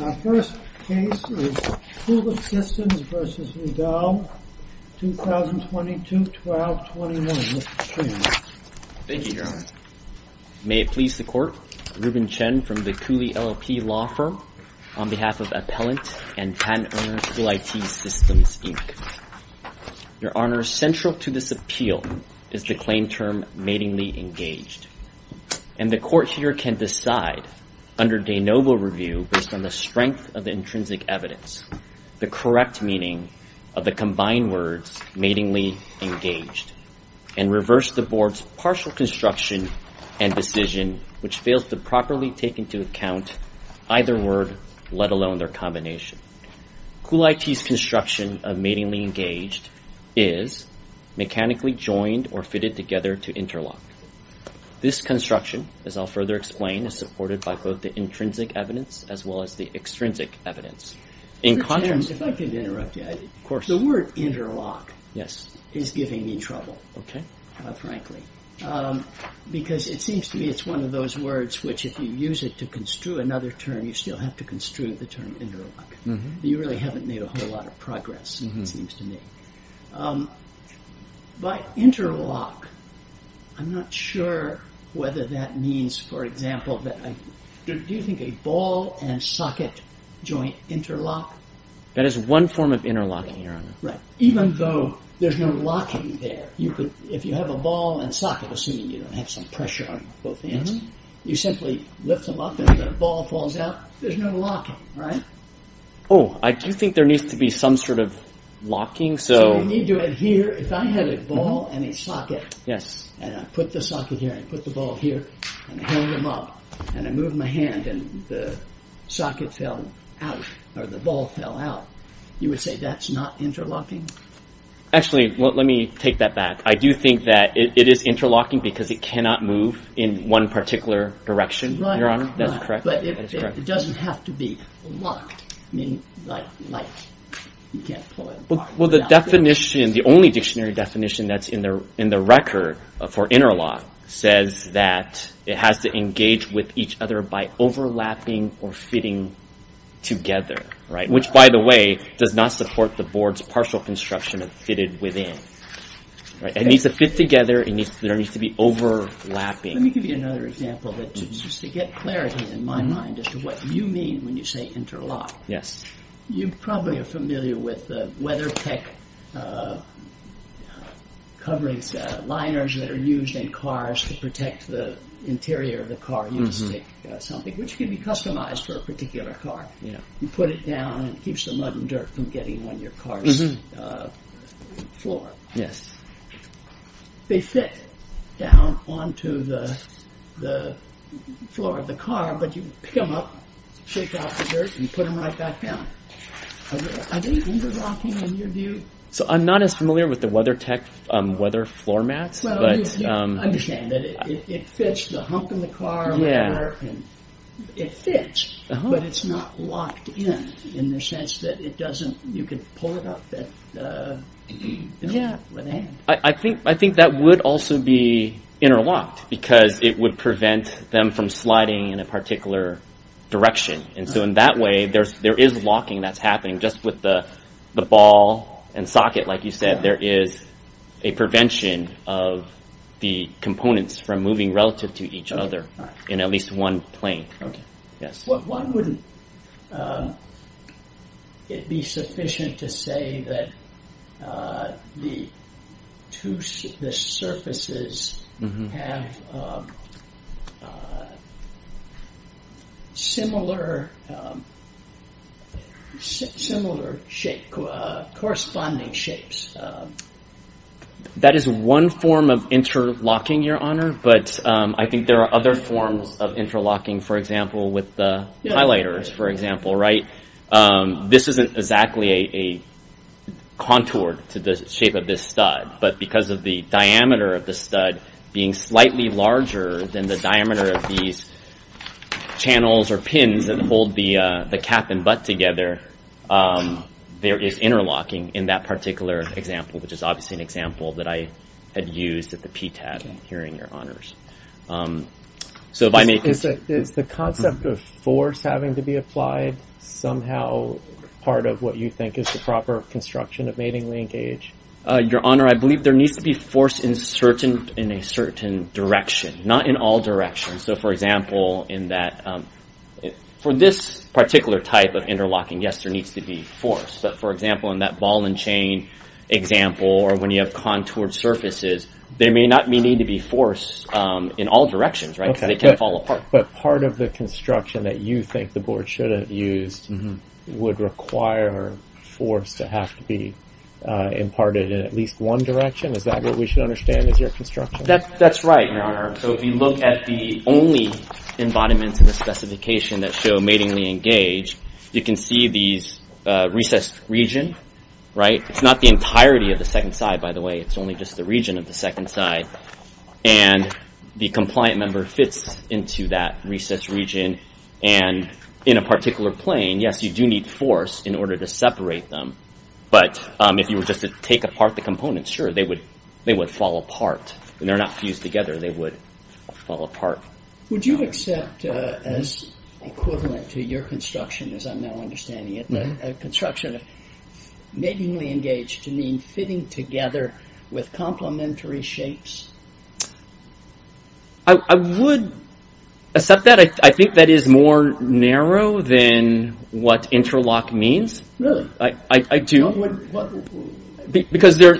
Our first case is Cooley Systems v. Vidal, 2022-12-21. Mr. Tremont. Thank you, Your Honor. May it please the Court, Reuben Chen from the Cooley LLP Law Firm, on behalf of Appellant and Patent Owner, Cool IT Systems, Inc. Your Honor, central to this appeal is the claim term, matingly engaged, and the Court here can decide under de novo review based on the strength of the intrinsic evidence, the correct meaning of the combined words, matingly engaged, and reverse the Board's partial construction and decision, which fails to properly take into account either word, let alone their combination. Cool IT's construction of matingly engaged is mechanically joined or fitted together to interlock. This construction, as I'll further explain, is supported by both the intrinsic evidence as well as the extrinsic evidence. If I could interrupt you, the word interlock is giving me trouble, frankly, because it seems to me it's one of those words which, if you use it to construe another term, you still have to construe the term interlock. You really haven't made a whole lot of progress, it seems to me. By interlock, I'm not sure whether that means, for example, do you think a ball and socket joint interlock? That is one form of interlocking, Your Honor. Even though there's no locking there, if you have a ball and socket, assuming you don't have some pressure on both ends, you simply lift them up and the ball falls out, there's no locking, right? Oh, I do think there needs to be some sort of locking. So you need to adhere, if I had a ball and a socket, and I put the socket here and put the ball here and hang them up, and I move my hand and the socket fell out, or the ball fell out, you would say that's not interlocking? Actually, let me take that back. I do think that it is interlocking because it cannot move in one particular direction, Your Honor, that's correct. But it doesn't have to be locked, I mean, like you can't pull it apart. Well, the definition, the only dictionary definition that's in the record for interlock says that it has to engage with each other by overlapping or fitting together, right? Which, by the way, does not support the board's partial construction of fitted within, right? It needs to fit together, there needs to be overlapping. Let me give you another example, just to get clarity in my mind as to what you mean when you say interlock. Yes. You probably are familiar with the WeatherTech coverings, liners that are used in cars to protect the interior of the car. You just take something, which can be customized for a particular car, you put it down and it keeps the mud and dirt from getting on your car's floor. Yes. They fit down onto the floor of the car, but you pick them up, shake off the dirt and put them right back down. Are they interlocking in your view? So, I'm not as familiar with the WeatherTech weather floor mats. Understand that it fits the hump in the car. It fits, but it's not locked in, in the sense that it doesn't, you can pull it up. I think that would also be interlocked, because it would prevent them from sliding in a particular direction. In that way, there is locking that's happening. Just with the ball and socket, like you said, there is a prevention of the components from moving relative to each other in at least one plane. Why wouldn't it be sufficient to say that the two surfaces have similar shape, corresponding shapes? That is one form of interlocking, Your Honor, but I think there are other forms of interlocking, for example, with the highlighters, for example. This isn't exactly a contour to the shape of this stud, but because of the diameter of the stud being slightly larger than the diameter of these channels or pins that hold the cap and butt together, there is interlocking in that particular example, which is obviously an example that I had used at the PTAB hearing, Your Honors. Is the concept of force having to be applied somehow part of what you think is the proper construction of mating linkage? Your Honor, I believe there needs to be force in a certain direction, not in all directions. So for example, for this particular type of interlocking, yes, there needs to be force. For example, in that ball and chain example, or when you have contoured surfaces, there may not need to be force in all directions, right? Because they can fall apart. But part of the construction that you think the board should have used would require force to have to be imparted in at least one direction? Is that what we should understand as your construction? That's right, Your Honor. So if you look at the only embodiments of the specification that show matingly engaged, you can see these recessed region, right? It's not the entirety of the second side, by the way. It's only just the region of the second side. And the compliant member fits into that recessed region. And in a particular plane, yes, you do need force in order to separate them. But if you were just to take apart the components, sure, they would fall apart. And they're not fused together. They would fall apart. Would you accept as equivalent to your construction, as I'm now understanding it, matingly engaged to mean fitting together with complementary shapes? I would accept that. I think that is more narrow than what interlock means. Really? Because there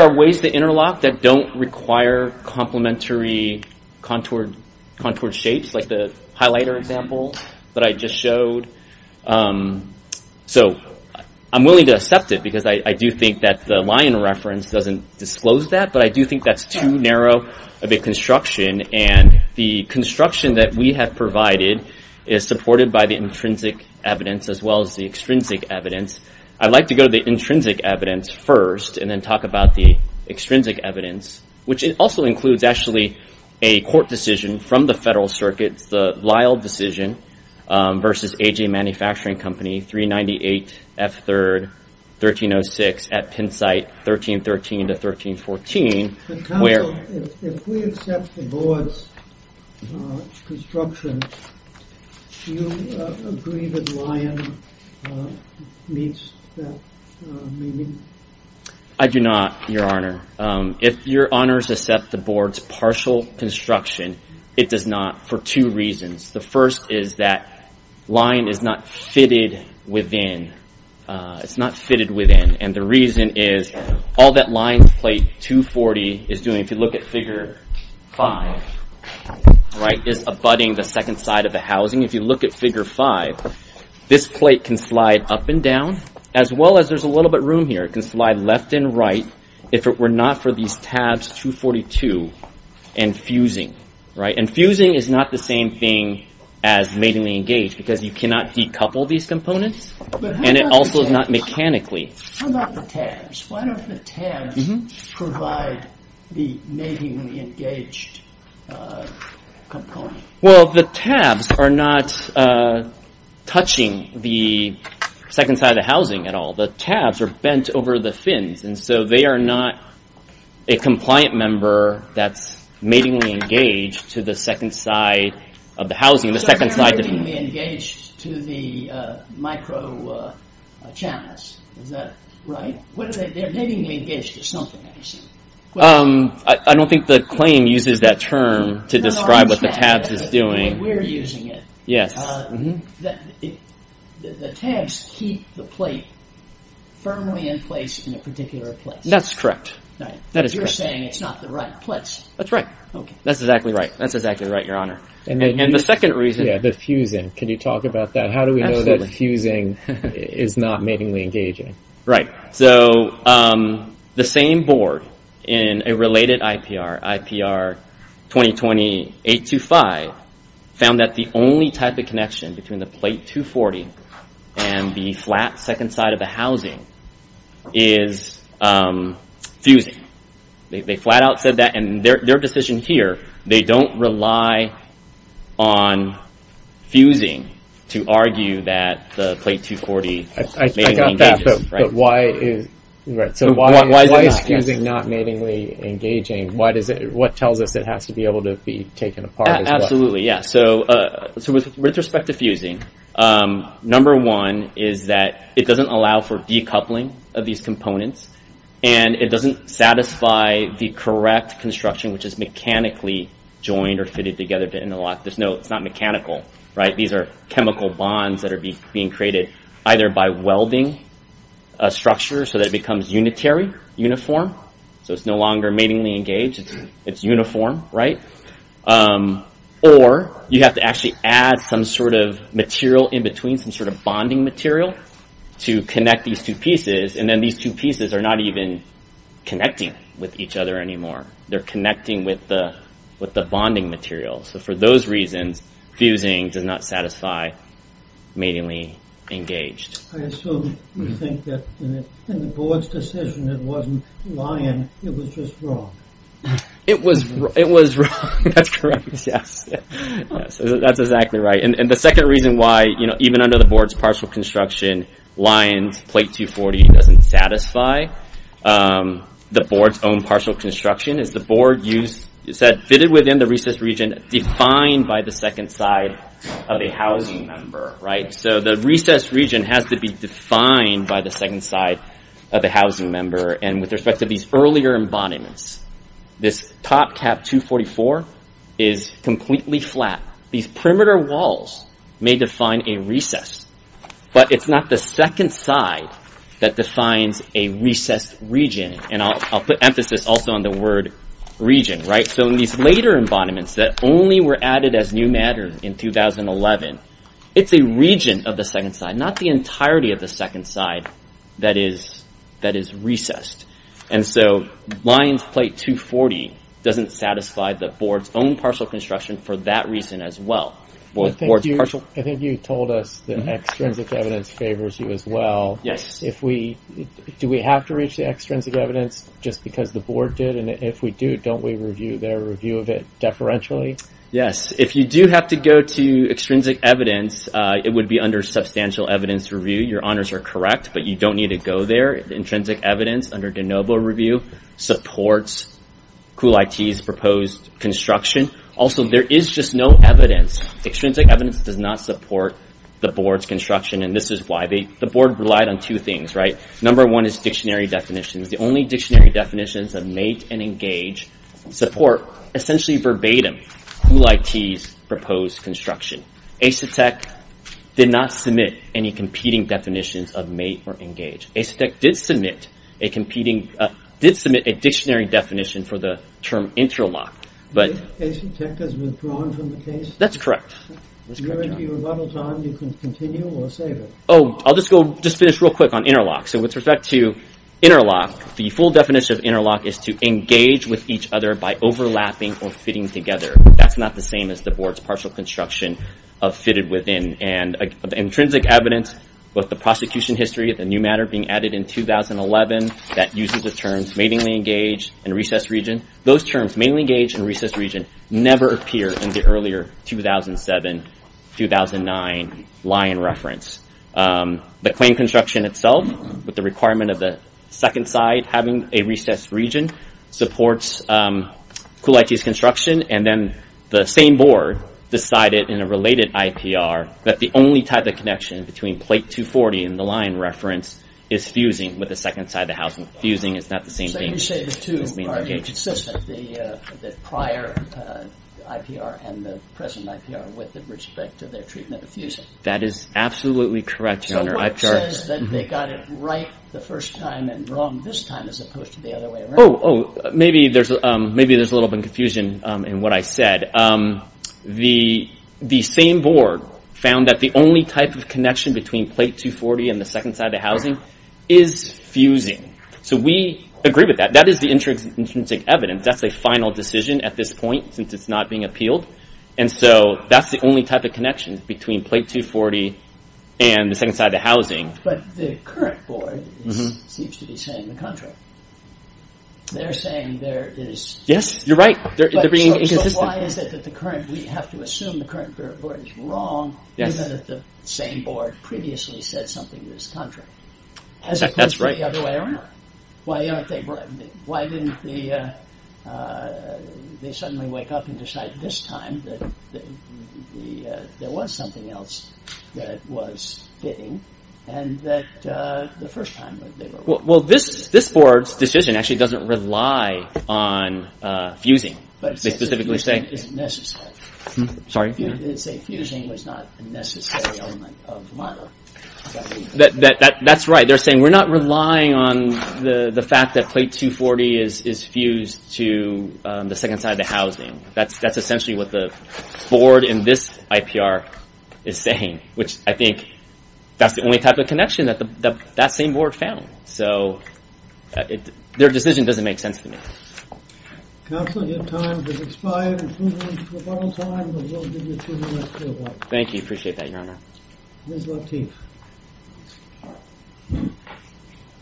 are ways to interlock that don't require complementary contoured shapes, like the highlighter example that I just showed. So I'm willing to accept it. Because I do think that the lion reference doesn't disclose that. But I do think that's too narrow of a construction. And the construction that we have provided is supported by the intrinsic evidence, as well as the extrinsic evidence. I'd like to go to the intrinsic evidence first, and then talk about the extrinsic evidence. Which also includes, actually, a court decision from the Federal Circuit, the Lyle decision versus AJ Manufacturing Company, 398 F3rd 1306 at Pennsite 1313 to 1314. If we accept the boa's construction, do you agree that lion meets that meaning? I do not, Your Honor. If Your Honor accepts the board's partial construction, it does not for two reasons. The first is that lion is not fitted within. It's not fitted within. And the reason is, all that lion's plate 240 is doing, if you look at figure 5, is abutting the second side of the housing. If you look at figure 5, this plate can slide up and down, as well as there's a little bit of room here. It can slide left and right, if it were not for these tabs 242 and fusing. And fusing is not the same thing as matingly engaged, because you cannot decouple these components, and it also is not mechanically. How about the tabs? Why don't the tabs provide the matingly engaged component? Well, the tabs are not touching the second side of the housing at all. The tabs are bent over the fins, and so they are not a compliant member that's matingly engaged to the second side of the housing. So they're not matingly engaged to the micro channels, is that right? They're matingly engaged to something, I assume. I don't think the claim uses that term to describe what the tabs is doing. The way we're using it. The tabs keep the plate firmly in place in a particular place. That's correct. You're saying it's not the right place. That's right. That's exactly right. That's exactly right, Your Honor. And the second reason... Yeah, the fusing. Can you talk about that? How do we know that fusing is not matingly engaging? Right. So the same board in a related IPR, IPR 2020-825, found that the only type of connection between the plate 240 and the flat second side of the housing is fusing. They flat out said that, and their decision here, they don't rely on fusing to argue that the plate 240... But why is fusing not matingly engaging? What tells us it has to be able to be taken apart as well? Absolutely, yeah. So with respect to fusing, number one is that it doesn't allow for decoupling of these components, and it doesn't satisfy the correct construction, which is mechanically joined or fitted together to interlock. There's no... It's not mechanical, right? These are chemical bonds that are being created either by welding a structure so that it becomes unitary, uniform, so it's no longer matingly engaged, it's uniform, right? Or you have to actually add some sort of material in between, some sort of bonding material to connect these two pieces, and then these two pieces are not even connecting with each other anymore. They're connecting with the bonding material. So for those reasons, fusing does not satisfy matingly engaged. I assume you think that in the board's decision, it wasn't lying, it was just wrong. It was wrong, that's correct, yes. That's exactly right. And the second reason why, you know, even under the board's partial construction, Lyons plate 240 doesn't satisfy the board's own partial construction as the board said, fitted within the recessed region defined by the second side of a housing member, right? So the recessed region has to be defined by the second side of a housing member. And with respect to these earlier embodiments, this top cap 244 is completely flat. These perimeter walls may define a recess, and I'll put emphasis also on the word region, right? So in these later embodiments that only were added as new matters in 2011, it's a region of the second side, not the entirety of the second side that is recessed. And so Lyons plate 240 doesn't satisfy the board's own partial construction for that reason as well. I think you told us that extrinsic evidence favors you as well. Yes. If we, do we have to reach the extrinsic evidence just because the board did? And if we do, don't we review their review of it deferentially? Yes. If you do have to go to extrinsic evidence, it would be under substantial evidence review. Your honors are correct, but you don't need to go there. Intrinsic evidence under de Novo review supports Cool IT's proposed construction. Also, there is just no evidence. Extrinsic evidence does not support the board's construction. And this is why the board relied on two things, right? Number one is dictionary definitions. The only dictionary definitions of mate and engage support essentially verbatim Cool IT's proposed construction. Asetek did not submit any competing definitions of mate or engage. Asetek did submit a dictionary definition for the term interlock. But Asetek has withdrawn from the case? That's correct. You're into your rebuttal time. You can continue or save it. Oh, I'll just finish real quick on interlock. So with respect to interlock, the full definition of interlock is to engage with each other by overlapping or fitting together. That's not the same as the board's partial construction of fitted within. And the intrinsic evidence with the prosecution history, the new matter being added in 2011, that uses the terms matingly engaged and recessed region. Those terms, matingly engaged and recessed region, never appear in the earlier 2007-2009 line reference. The claim construction itself, with the requirement of the second side having a recessed region, supports Cool IT's construction. And then the same board decided in a related IPR that the only type of connection between plate 240 and the line reference is fusing with the second side of the house. Fusing is not the same thing. The two are inconsistent, the prior IPR and the present IPR, with respect to their treatment of fusing. That is absolutely correct, your honor. So what says that they got it right the first time and wrong this time as opposed to the other way around? Oh, maybe there's a little bit of confusion in what I said. The same board found that the only type of connection between plate 240 and the second side of the housing is fusing. So we agree with that. That is the intrinsic evidence. That's a final decision at this point since it's not being appealed. And so that's the only type of connection between plate 240 and the second side of the housing. But the current board seems to be saying the contrary. They're saying there is... Yes, you're right, they're being inconsistent. So why is it that the current, we have to assume the current board is wrong given that the same board previously said something to this contract as opposed to the other way around? Why aren't they... Why didn't they suddenly wake up and decide this time that there was something else that was fitting and that the first time they were wrong? Well, this board's decision actually doesn't rely on fusing. They specifically say... Fusing isn't necessary. Sorry? They say fusing was not a necessary element of the model. That's right. They're saying we're not relying on the fact that plate 240 is fused to the second side of the housing. That's essentially what the board in this IPR is saying, which I think that's the only type of connection that that same board found. So their decision doesn't make sense to me. Counsel, your time has expired. Thank you. Appreciate that, Your Honor. Ms. Lateef.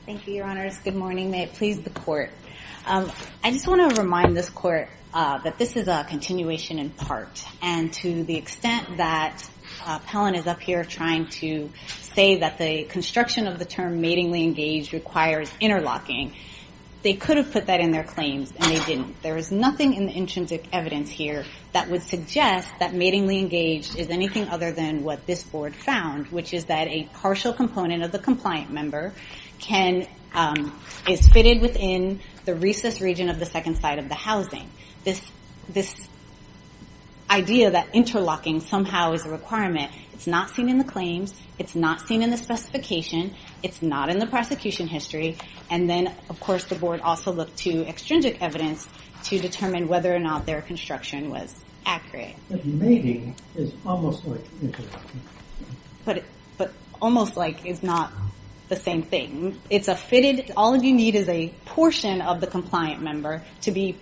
Thank you, Your Honors. Good morning. May it please the court. I just want to remind this court that this is a continuation in part. And to the extent that Pellon is up here trying to say that the construction of the term matingly engaged requires interlocking, they could have put that in their claims and they didn't. There is nothing in the intrinsic evidence here that would suggest that matingly engaged is anything other than what this board found, which is that a partial component of the compliant member is fitted within the recess region of the second side of the housing. This idea that interlocking somehow is a requirement, it's not seen in the claims. It's not seen in the specification. It's not in the prosecution history. And then, of course, the board also looked to extrinsic evidence to determine whether or not their construction was accurate. But mating is almost like interlocking. But almost like is not the same thing. It's a fitted. All you need is a portion of the compliant member to be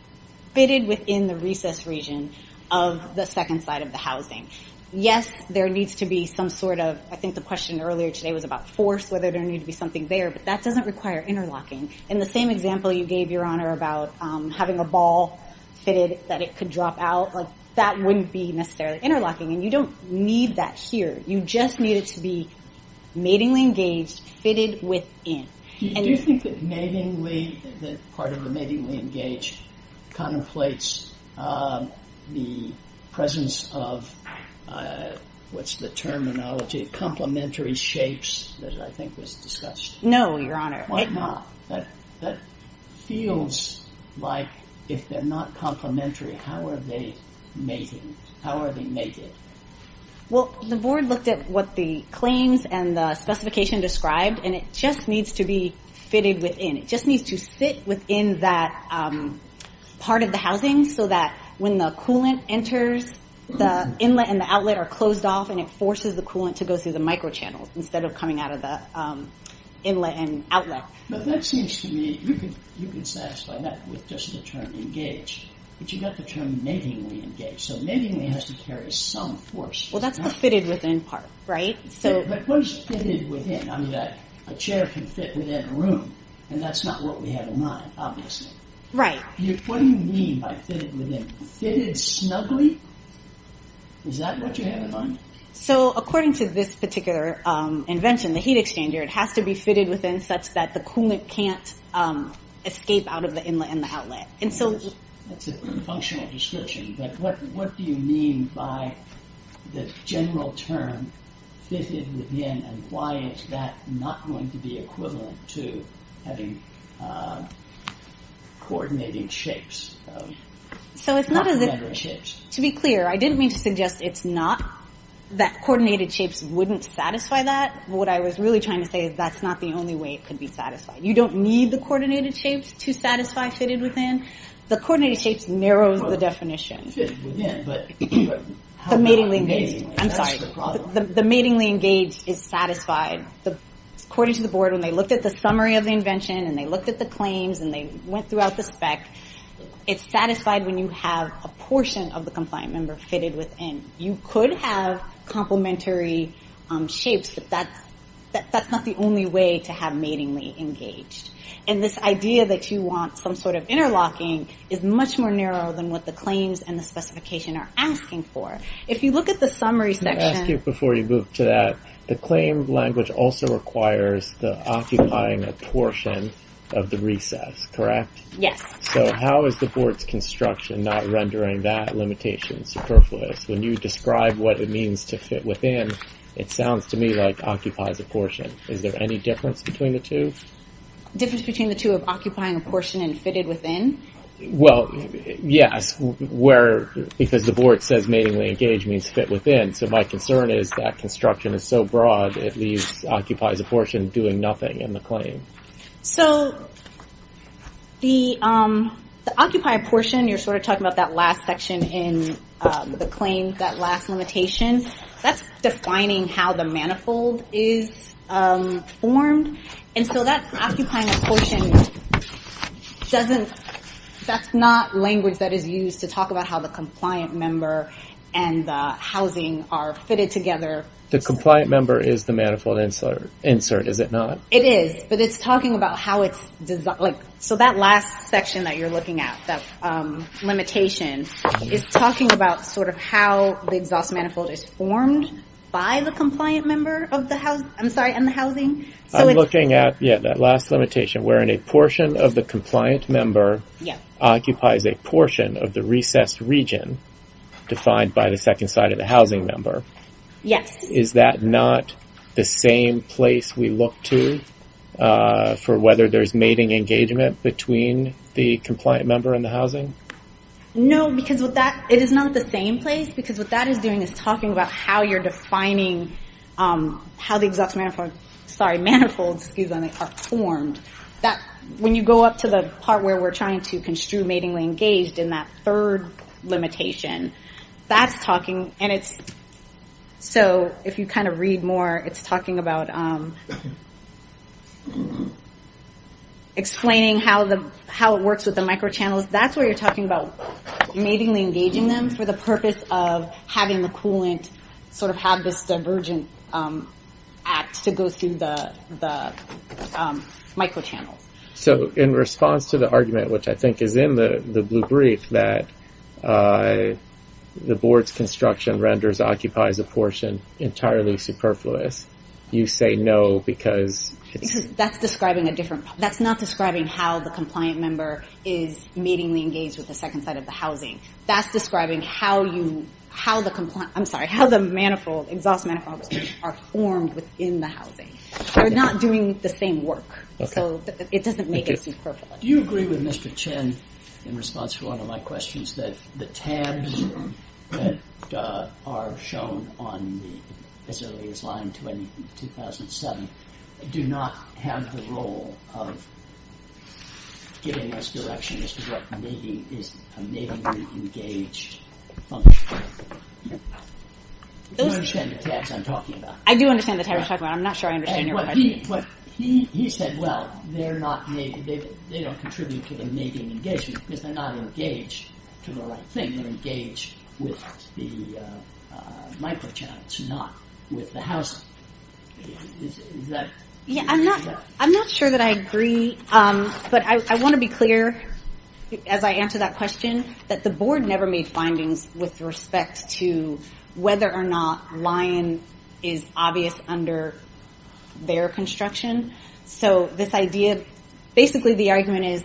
fitted within the recess region of the second side of the housing. Yes, there needs to be some sort of, I think the question earlier today was about force, whether there need to be something there. But that doesn't require interlocking. In the same example you gave, Your Honor, about having a ball fitted that it could drop out, that wouldn't be necessarily interlocking. You don't need that here. You just need it to be matingly engaged, fitted within. Do you think that part of the matingly engaged contemplates the presence of, what's the terminology, complementary shapes that I think was discussed? No, Your Honor. Why not? That feels like, if they're not complementary, how are they mating? Well, the board looked at what the claims and the specification described, and it just needs to be fitted within. It just needs to fit within that part of the housing so that when the coolant enters, the inlet and the outlet are closed off and it forces the coolant to go through the microchannel instead of coming out of the inlet and outlet. But that seems to me, you can satisfy that with just the term engaged. But you've got the term matingly engaged. So matingly has to carry some force. Well, that's the fitted within part, right? But what is fitted within? I mean, a chair can fit within a room, and that's not what we have in mind, obviously. Right. What do you mean by fitted within? Fitted snugly? Is that what you have in mind? So according to this particular invention, the heat exchanger, it has to be fitted within such that the coolant can't escape out of the inlet and the outlet. That's a functional description. But what do you mean by the general term fitted within, and why is that not going to be equivalent to having coordinating shapes? So it's not as if, to be clear, I didn't mean to suggest it's not, that coordinated shapes wouldn't satisfy that. What I was really trying to say is that's not the only way it could be satisfied. You don't need the coordinated shapes to satisfy fitted within. The coordinated shapes narrows the definition. Well, it fits within, but how about matingly? I'm sorry, the matingly engaged is satisfied. According to the board, when they looked at the summary of the invention, and they looked at the claims, and they went throughout the spec, it's satisfied when you have a portion of the compliant member fitted within. You could have complementary shapes, but that's not the only way to have matingly engaged. And this idea that you want some sort of interlocking is much more narrow than what the claims and the specification are asking for. If you look at the summary section- I'll ask you before you move to that, the claim language also requires the occupying a portion of the recess, correct? Yes. So how is the board's construction not rendering that limitation superfluous? When you describe what it means to fit within, it sounds to me like occupies a portion. Is there any difference between the two? Difference between the two of occupying a portion and fitted within? Well, yes. Because the board says matingly engaged means fit within. So my concern is that construction is so broad, it occupies a portion doing nothing in the claim. So the occupy a portion, you're sort of talking about that last section in the claim, that last limitation, that's defining how the manifold is formed. And so that occupying a portion, that's not language that is used to talk about how the compliant member and the housing are fitted together. The compliant member is the manifold insert, is it not? It is, but it's talking about how it's designed. So that last section that you're looking at, that limitation, is talking about sort of how the exhaust manifold is formed by the compliant member of the house, I'm sorry, and the housing. I'm looking at, yeah, that last limitation, wherein a portion of the compliant member occupies a portion of the recessed region defined by the second side of the housing member. Yes. Is that not the same place we look to for whether there's mating engagement between the compliant member and the housing? No, because it is not the same place, because what that is doing is talking about how you're defining how the exhaust manifold, sorry, manifolds, excuse me, are formed. When you go up to the part where we're trying to construe matingly engaged in that third limitation, that's talking, and it's, so if you kind of read more, it's talking about explaining how it works with the microchannels. That's where you're talking about matingly engaging them for the purpose of having the coolant sort of have this divergent act to go through the microchannels. So in response to the argument, which I think is in the blue brief, that the board's construction renders, occupies a portion entirely superfluous, you say no because it's- Because that's describing a different, that's not describing how the compliant member is matingly engaged with the second side of the housing. That's describing how you, how the compliant, I'm sorry, how the manifold, exhaust manifold are formed within the housing. They're not doing the same work. So it doesn't make it superfluous. Do you agree with Mr. Chen in response to one of my questions that the tabs that are shown on the, as early as line 2007, do not have the role of giving us direction as to what mating is, a matingly engaged function. Do you understand the tabs I'm talking about? I do understand the tabs you're talking about. I'm not sure I understand your question. He said, well, they're not, they don't contribute to the mating engagement because they're not engaged to the right thing. They're engaged with the microchannels, not with the housing. Is that- Yeah, I'm not, I'm not sure that I agree. But I want to be clear as I answer that question that the board never made findings with respect to whether or not lion is obvious under their construction. So this idea, basically the argument is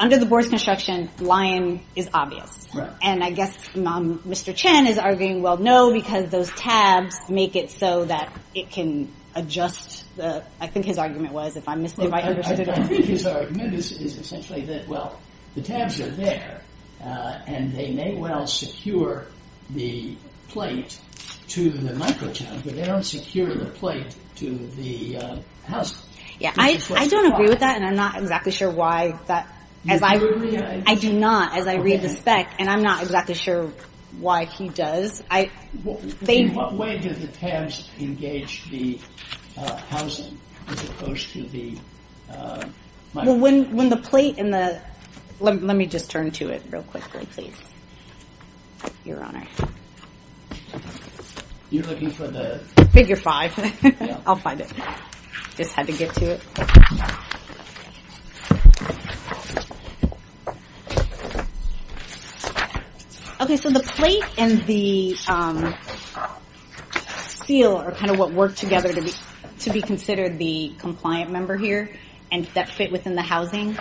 under the board's construction, lion is obvious. And I guess Mr. Chen is arguing, well, no, because those tabs make it so that it can adjust the, I think his argument was, I think his argument is essentially that, well, the tabs are there and they may well secure the plate to the microchannel, but they don't secure the plate to the housing. Yeah, I don't agree with that. And I'm not exactly sure why that, I do not as I read the spec and I'm not exactly sure why he does. In what way do the tabs engage the housing as opposed to the microchannel? Well, when the plate and the, let me just turn to it real quickly, please. Your Honor. You're looking for the- Figure five, I'll find it. Just had to get to it. Okay, so the plate and the seal are kind of what work together to be considered the compliant member here and that fit within the housing,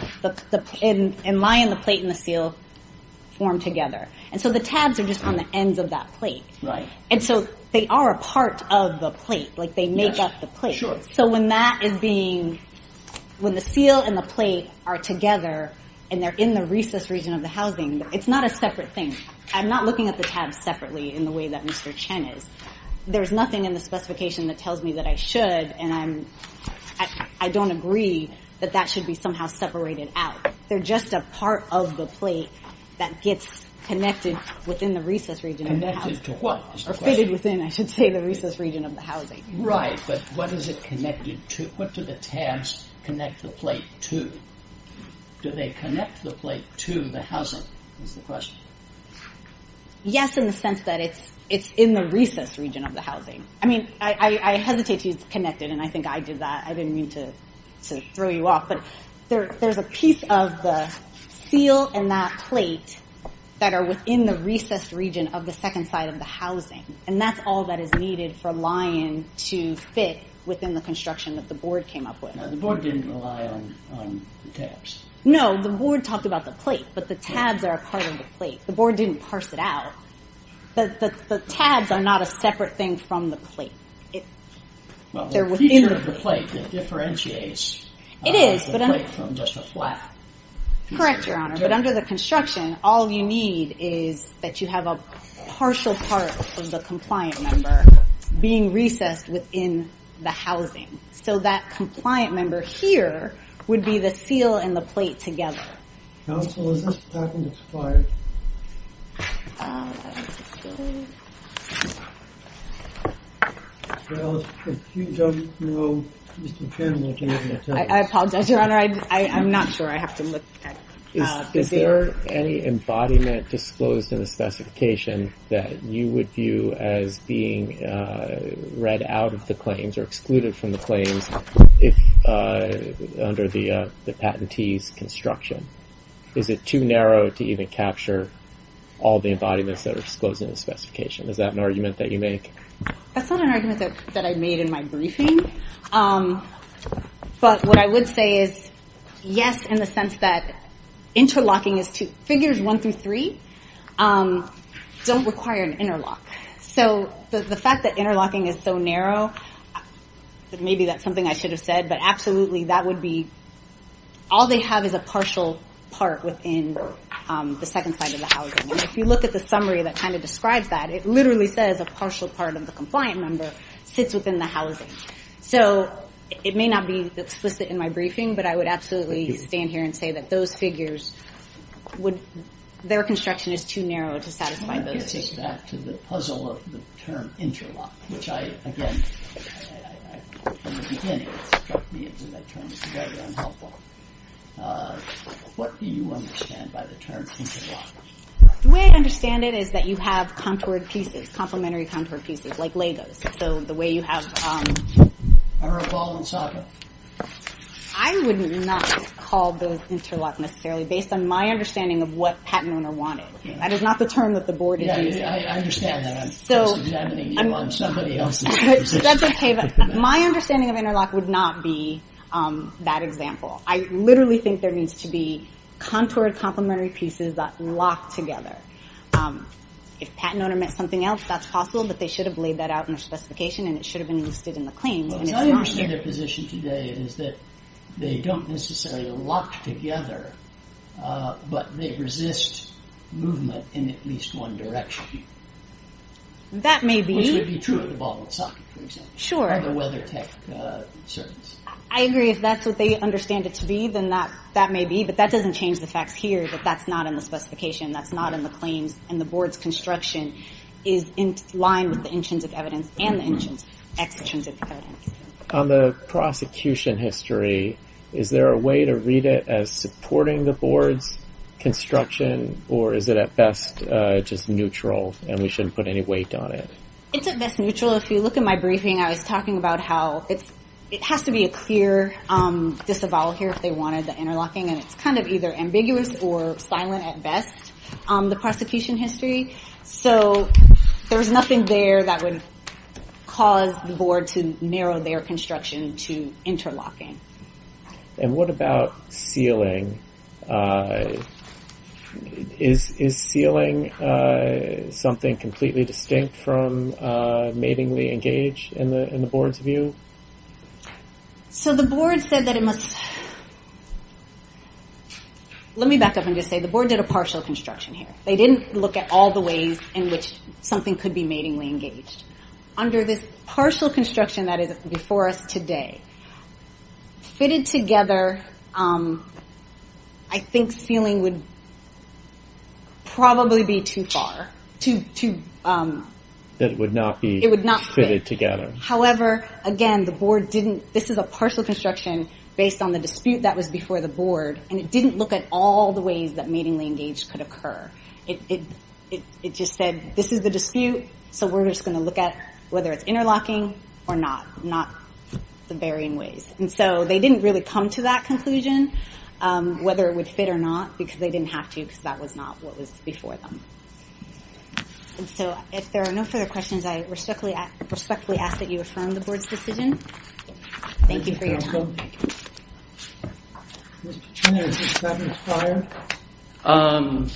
and my and the plate and the seal form together. And so the tabs are just on the ends of that plate. And so they are a part of the plate, like they make up the plate. So when that is being, when the seal and the plate are together and they're in the recess region of the housing, it's not a separate thing. I'm not looking at the tabs separately in the way that Mr. Chen is. There's nothing in the specification that tells me that I should, and I'm, I don't agree that that should be somehow separated out. They're just a part of the plate that gets connected within the recess region. Connected to what is the question? Or fitted within, I should say, the recess region of the housing. Right, but what is it connected to? What do the tabs connect the plate to? Do they connect the plate to the housing is the question. Yes, in the sense that it's, it's in the recess region of the housing. I mean, I hesitate to use connected, and I think I did that. I didn't mean to throw you off, but there's a piece of the seal and that plate that are within the recess region of the second side of the housing. And that's all that is needed for Lion to fit within the construction that the board came up with. Now the board didn't rely on the tabs. No, the board talked about the plate, but the tabs are a part of the plate. The board didn't parse it out. The tabs are not a separate thing from the plate. Well, the feature of the plate, it differentiates the plate from just a flap. Correct, Your Honor. But under the construction, all you need is that you have a partial part of the compliant member being recessed within the housing. So that compliant member here would be the seal and the plate together. Counsel, is this patent expired? I apologize, Your Honor. I'm not sure. I have to look. Is there any embodiment disclosed in the specification that you would view as being read out of the claims or excluded from the claims under the patentee's construction? Is it too narrow to even capture all the embodiments that are disclosed in the specification? Is that an argument that you make? That's not an argument that I made in my briefing. But what I would say is, yes, in the sense that interlocking is two. Figures one through three don't require an interlock. So the fact that interlocking is so narrow, maybe that's something I should have said, but absolutely that would be, all they have is a partial part within the second side of the housing. And if you look at the summary that kind of describes that, it literally says a partial part of the compliant member sits within the housing. So it may not be explicit in my briefing, but I would absolutely stand here and say that those figures would, their construction is too narrow to satisfy those two. I want to get back to the puzzle of the term interlock, which I, again, from the beginning, struck me as a term that's very unhelpful. What do you understand by the term interlock? The way I understand it is that you have contoured pieces, complementary contoured pieces, like Legos. So the way you have... Or a ball and soccer. I would not call those interlock necessarily based on my understanding of what patent owner wanted. That is not the term that the board is using. I understand that. I'm just examining you on somebody else's terms. That's okay, but my understanding of interlock would not be that example. I literally think there needs to be contoured complementary pieces that lock together. If patent owner meant something else, that's possible, but they should have laid that out in their specification and it should have been listed in the claims. What I understand their position today is that they don't necessarily lock together, but they resist movement in at least one direction. That may be. Which would be true of the ball and soccer, for example. Sure. Or the WeatherTech service. I agree. If that's what they understand that may be, but that doesn't change the facts here, but that's not in the specification. That's not in the claims and the board's construction is in line with the intrinsic evidence and the extrinsic evidence. On the prosecution history, is there a way to read it as supporting the board's construction or is it at best just neutral and we shouldn't put any weight on it? It's at best neutral. If you look at my briefing, I was talking about how it has to be a clear disavowal here. If they wanted the interlocking and it's kind of either ambiguous or silent at best, the prosecution history. So there was nothing there that would cause the board to narrow their construction to interlocking. And what about sealing? Is sealing something completely distinct from matingly engaged in the board's view? So the board said that it must... Let me back up and just say the board did a partial construction here. They didn't look at all the ways in which something could be matingly engaged. Under this partial construction that is before us today, fitted together, I think sealing would probably be too far. That it would not be fitted together. However, again, the board didn't... This is a partial construction. Based on the dispute that was before the board. And it didn't look at all the ways that matingly engaged could occur. It just said, this is the dispute. So we're just going to look at whether it's interlocking or not. Not the varying ways. And so they didn't really come to that conclusion. Whether it would fit or not because they didn't have to because that was not what was before them. And so if there are no further questions, I respectfully ask that you affirm the board's decision. Thank you for your time. Mr. Chairman, is this patent expired? Um...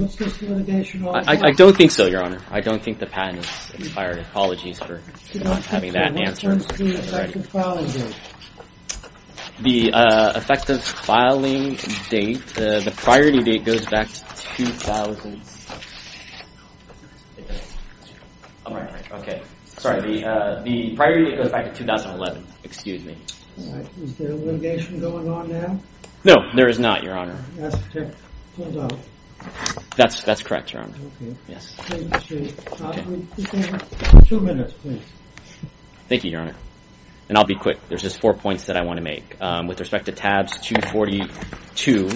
What's this litigation all about? I don't think so, Your Honor. I don't think the patent is expired. Apologies for not having that answer. What's the effective filing date? The effective filing date... The priority date goes back to 2000... Okay. Sorry, the priority goes back to 2011. Excuse me. Is there a litigation going on now? No, there is not, Your Honor. That's correct, Your Honor. Two minutes, please. Thank you, Your Honor. And I'll be quick. There's just four points that I want to make. With respect to tabs 242,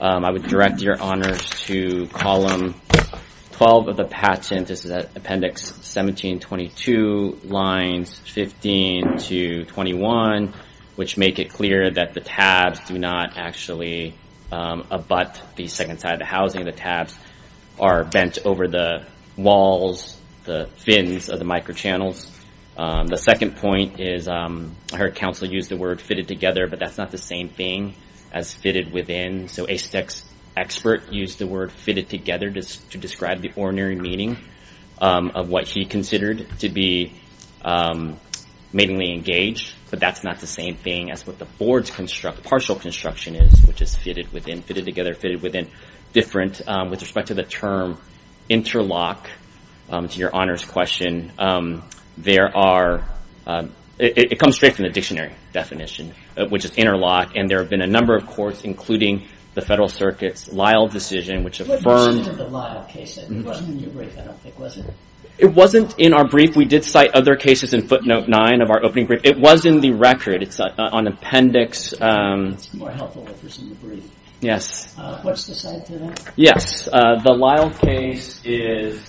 I would direct your honors to column 12 of the patent. This is appendix 1722, lines 15 to 21, which make it clear that the tabs do not actually abut the second side of the housing. The tabs are bent over the walls, the fins of the microchannels. The second point is, I heard counsel use the word fitted together, but that's not the same thing as fitted within. So a sex expert used the word fitted together just to describe the ordinary meeting of what he considered to be matingly engaged. But that's not the same thing as what the board's partial construction is, which is fitted within, fitted together, fitted within different... With respect to the term interlock, to your honors question, there are... It comes straight from the dictionary definition, which is interlock. And there have been a number of courts, including the Federal Circuit's Lyle decision, which affirmed... What's the name of the Lyle case? It wasn't in your brief, I don't think, was it? It wasn't in our brief. We did cite other cases in footnote nine of our opening brief. It was in the record. It's on appendix... It's more helpful if it's in the brief. Yes. What's the site today? Yes. The Lyle case is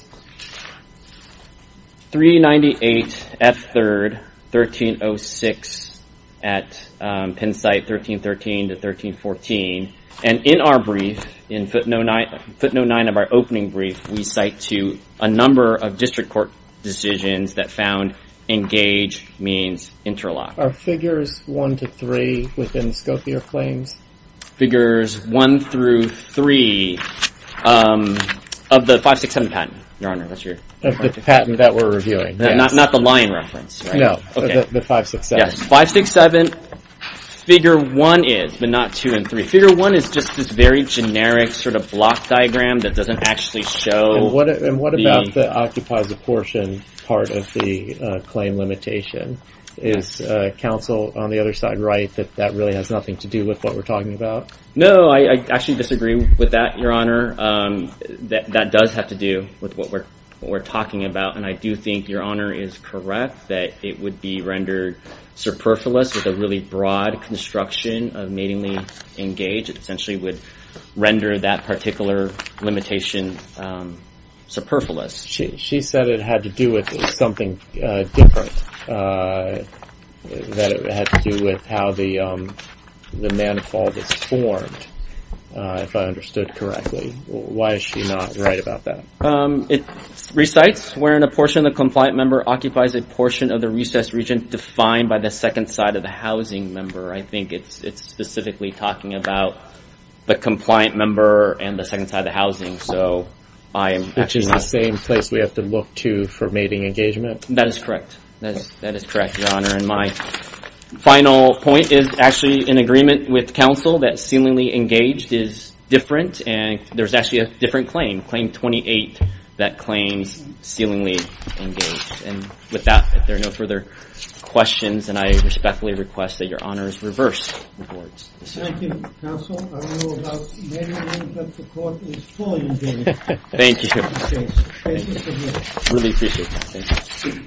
398 F3rd 1306 at Penn site 1313 to 1314. And in our brief, in footnote nine of our opening brief, we cite to a number of district court decisions that found engage means interlock. Are figures one to three within SCOFIA claims? Figures one through three of the 567 patent, Your Honor, that's your... Of the patent that we're reviewing. Not the line reference, right? No, the 567. 567, figure one is, but not two and three. Figure one is just this very generic sort of block diagram that doesn't actually show... And what about the occupies a portion part of the claim limitation? Is counsel on the other side right that that really has nothing to do with what we're talking about? No, I actually disagree with that, Your Honor. That does have to do with what we're talking about. And I do think Your Honor is correct that it would be rendered superfluous with a really broad construction of matingly engaged. It essentially would render that particular limitation superfluous. She said it had to do with something different. That it had to do with how the manifold is formed, if I understood correctly. Why is she not right about that? It recites wherein a portion of the compliant member occupies a portion of the recessed region defined by the second side of the housing member. I think it's specifically talking about the compliant member and the second side of the housing. So I am... Which is the same place we have to look to for mating engagement? That is correct. That is correct, Your Honor. And my final point is actually in agreement with counsel that sealingly engaged is different. And there's actually a different claim. Claim 28 that claims sealingly engaged. And with that, if there are no further questions, and I respectfully request that Your Honor's reverse reports. Thank you, counsel. I don't know about many of you, but the court is fully engaged. Thank you. Really appreciate it.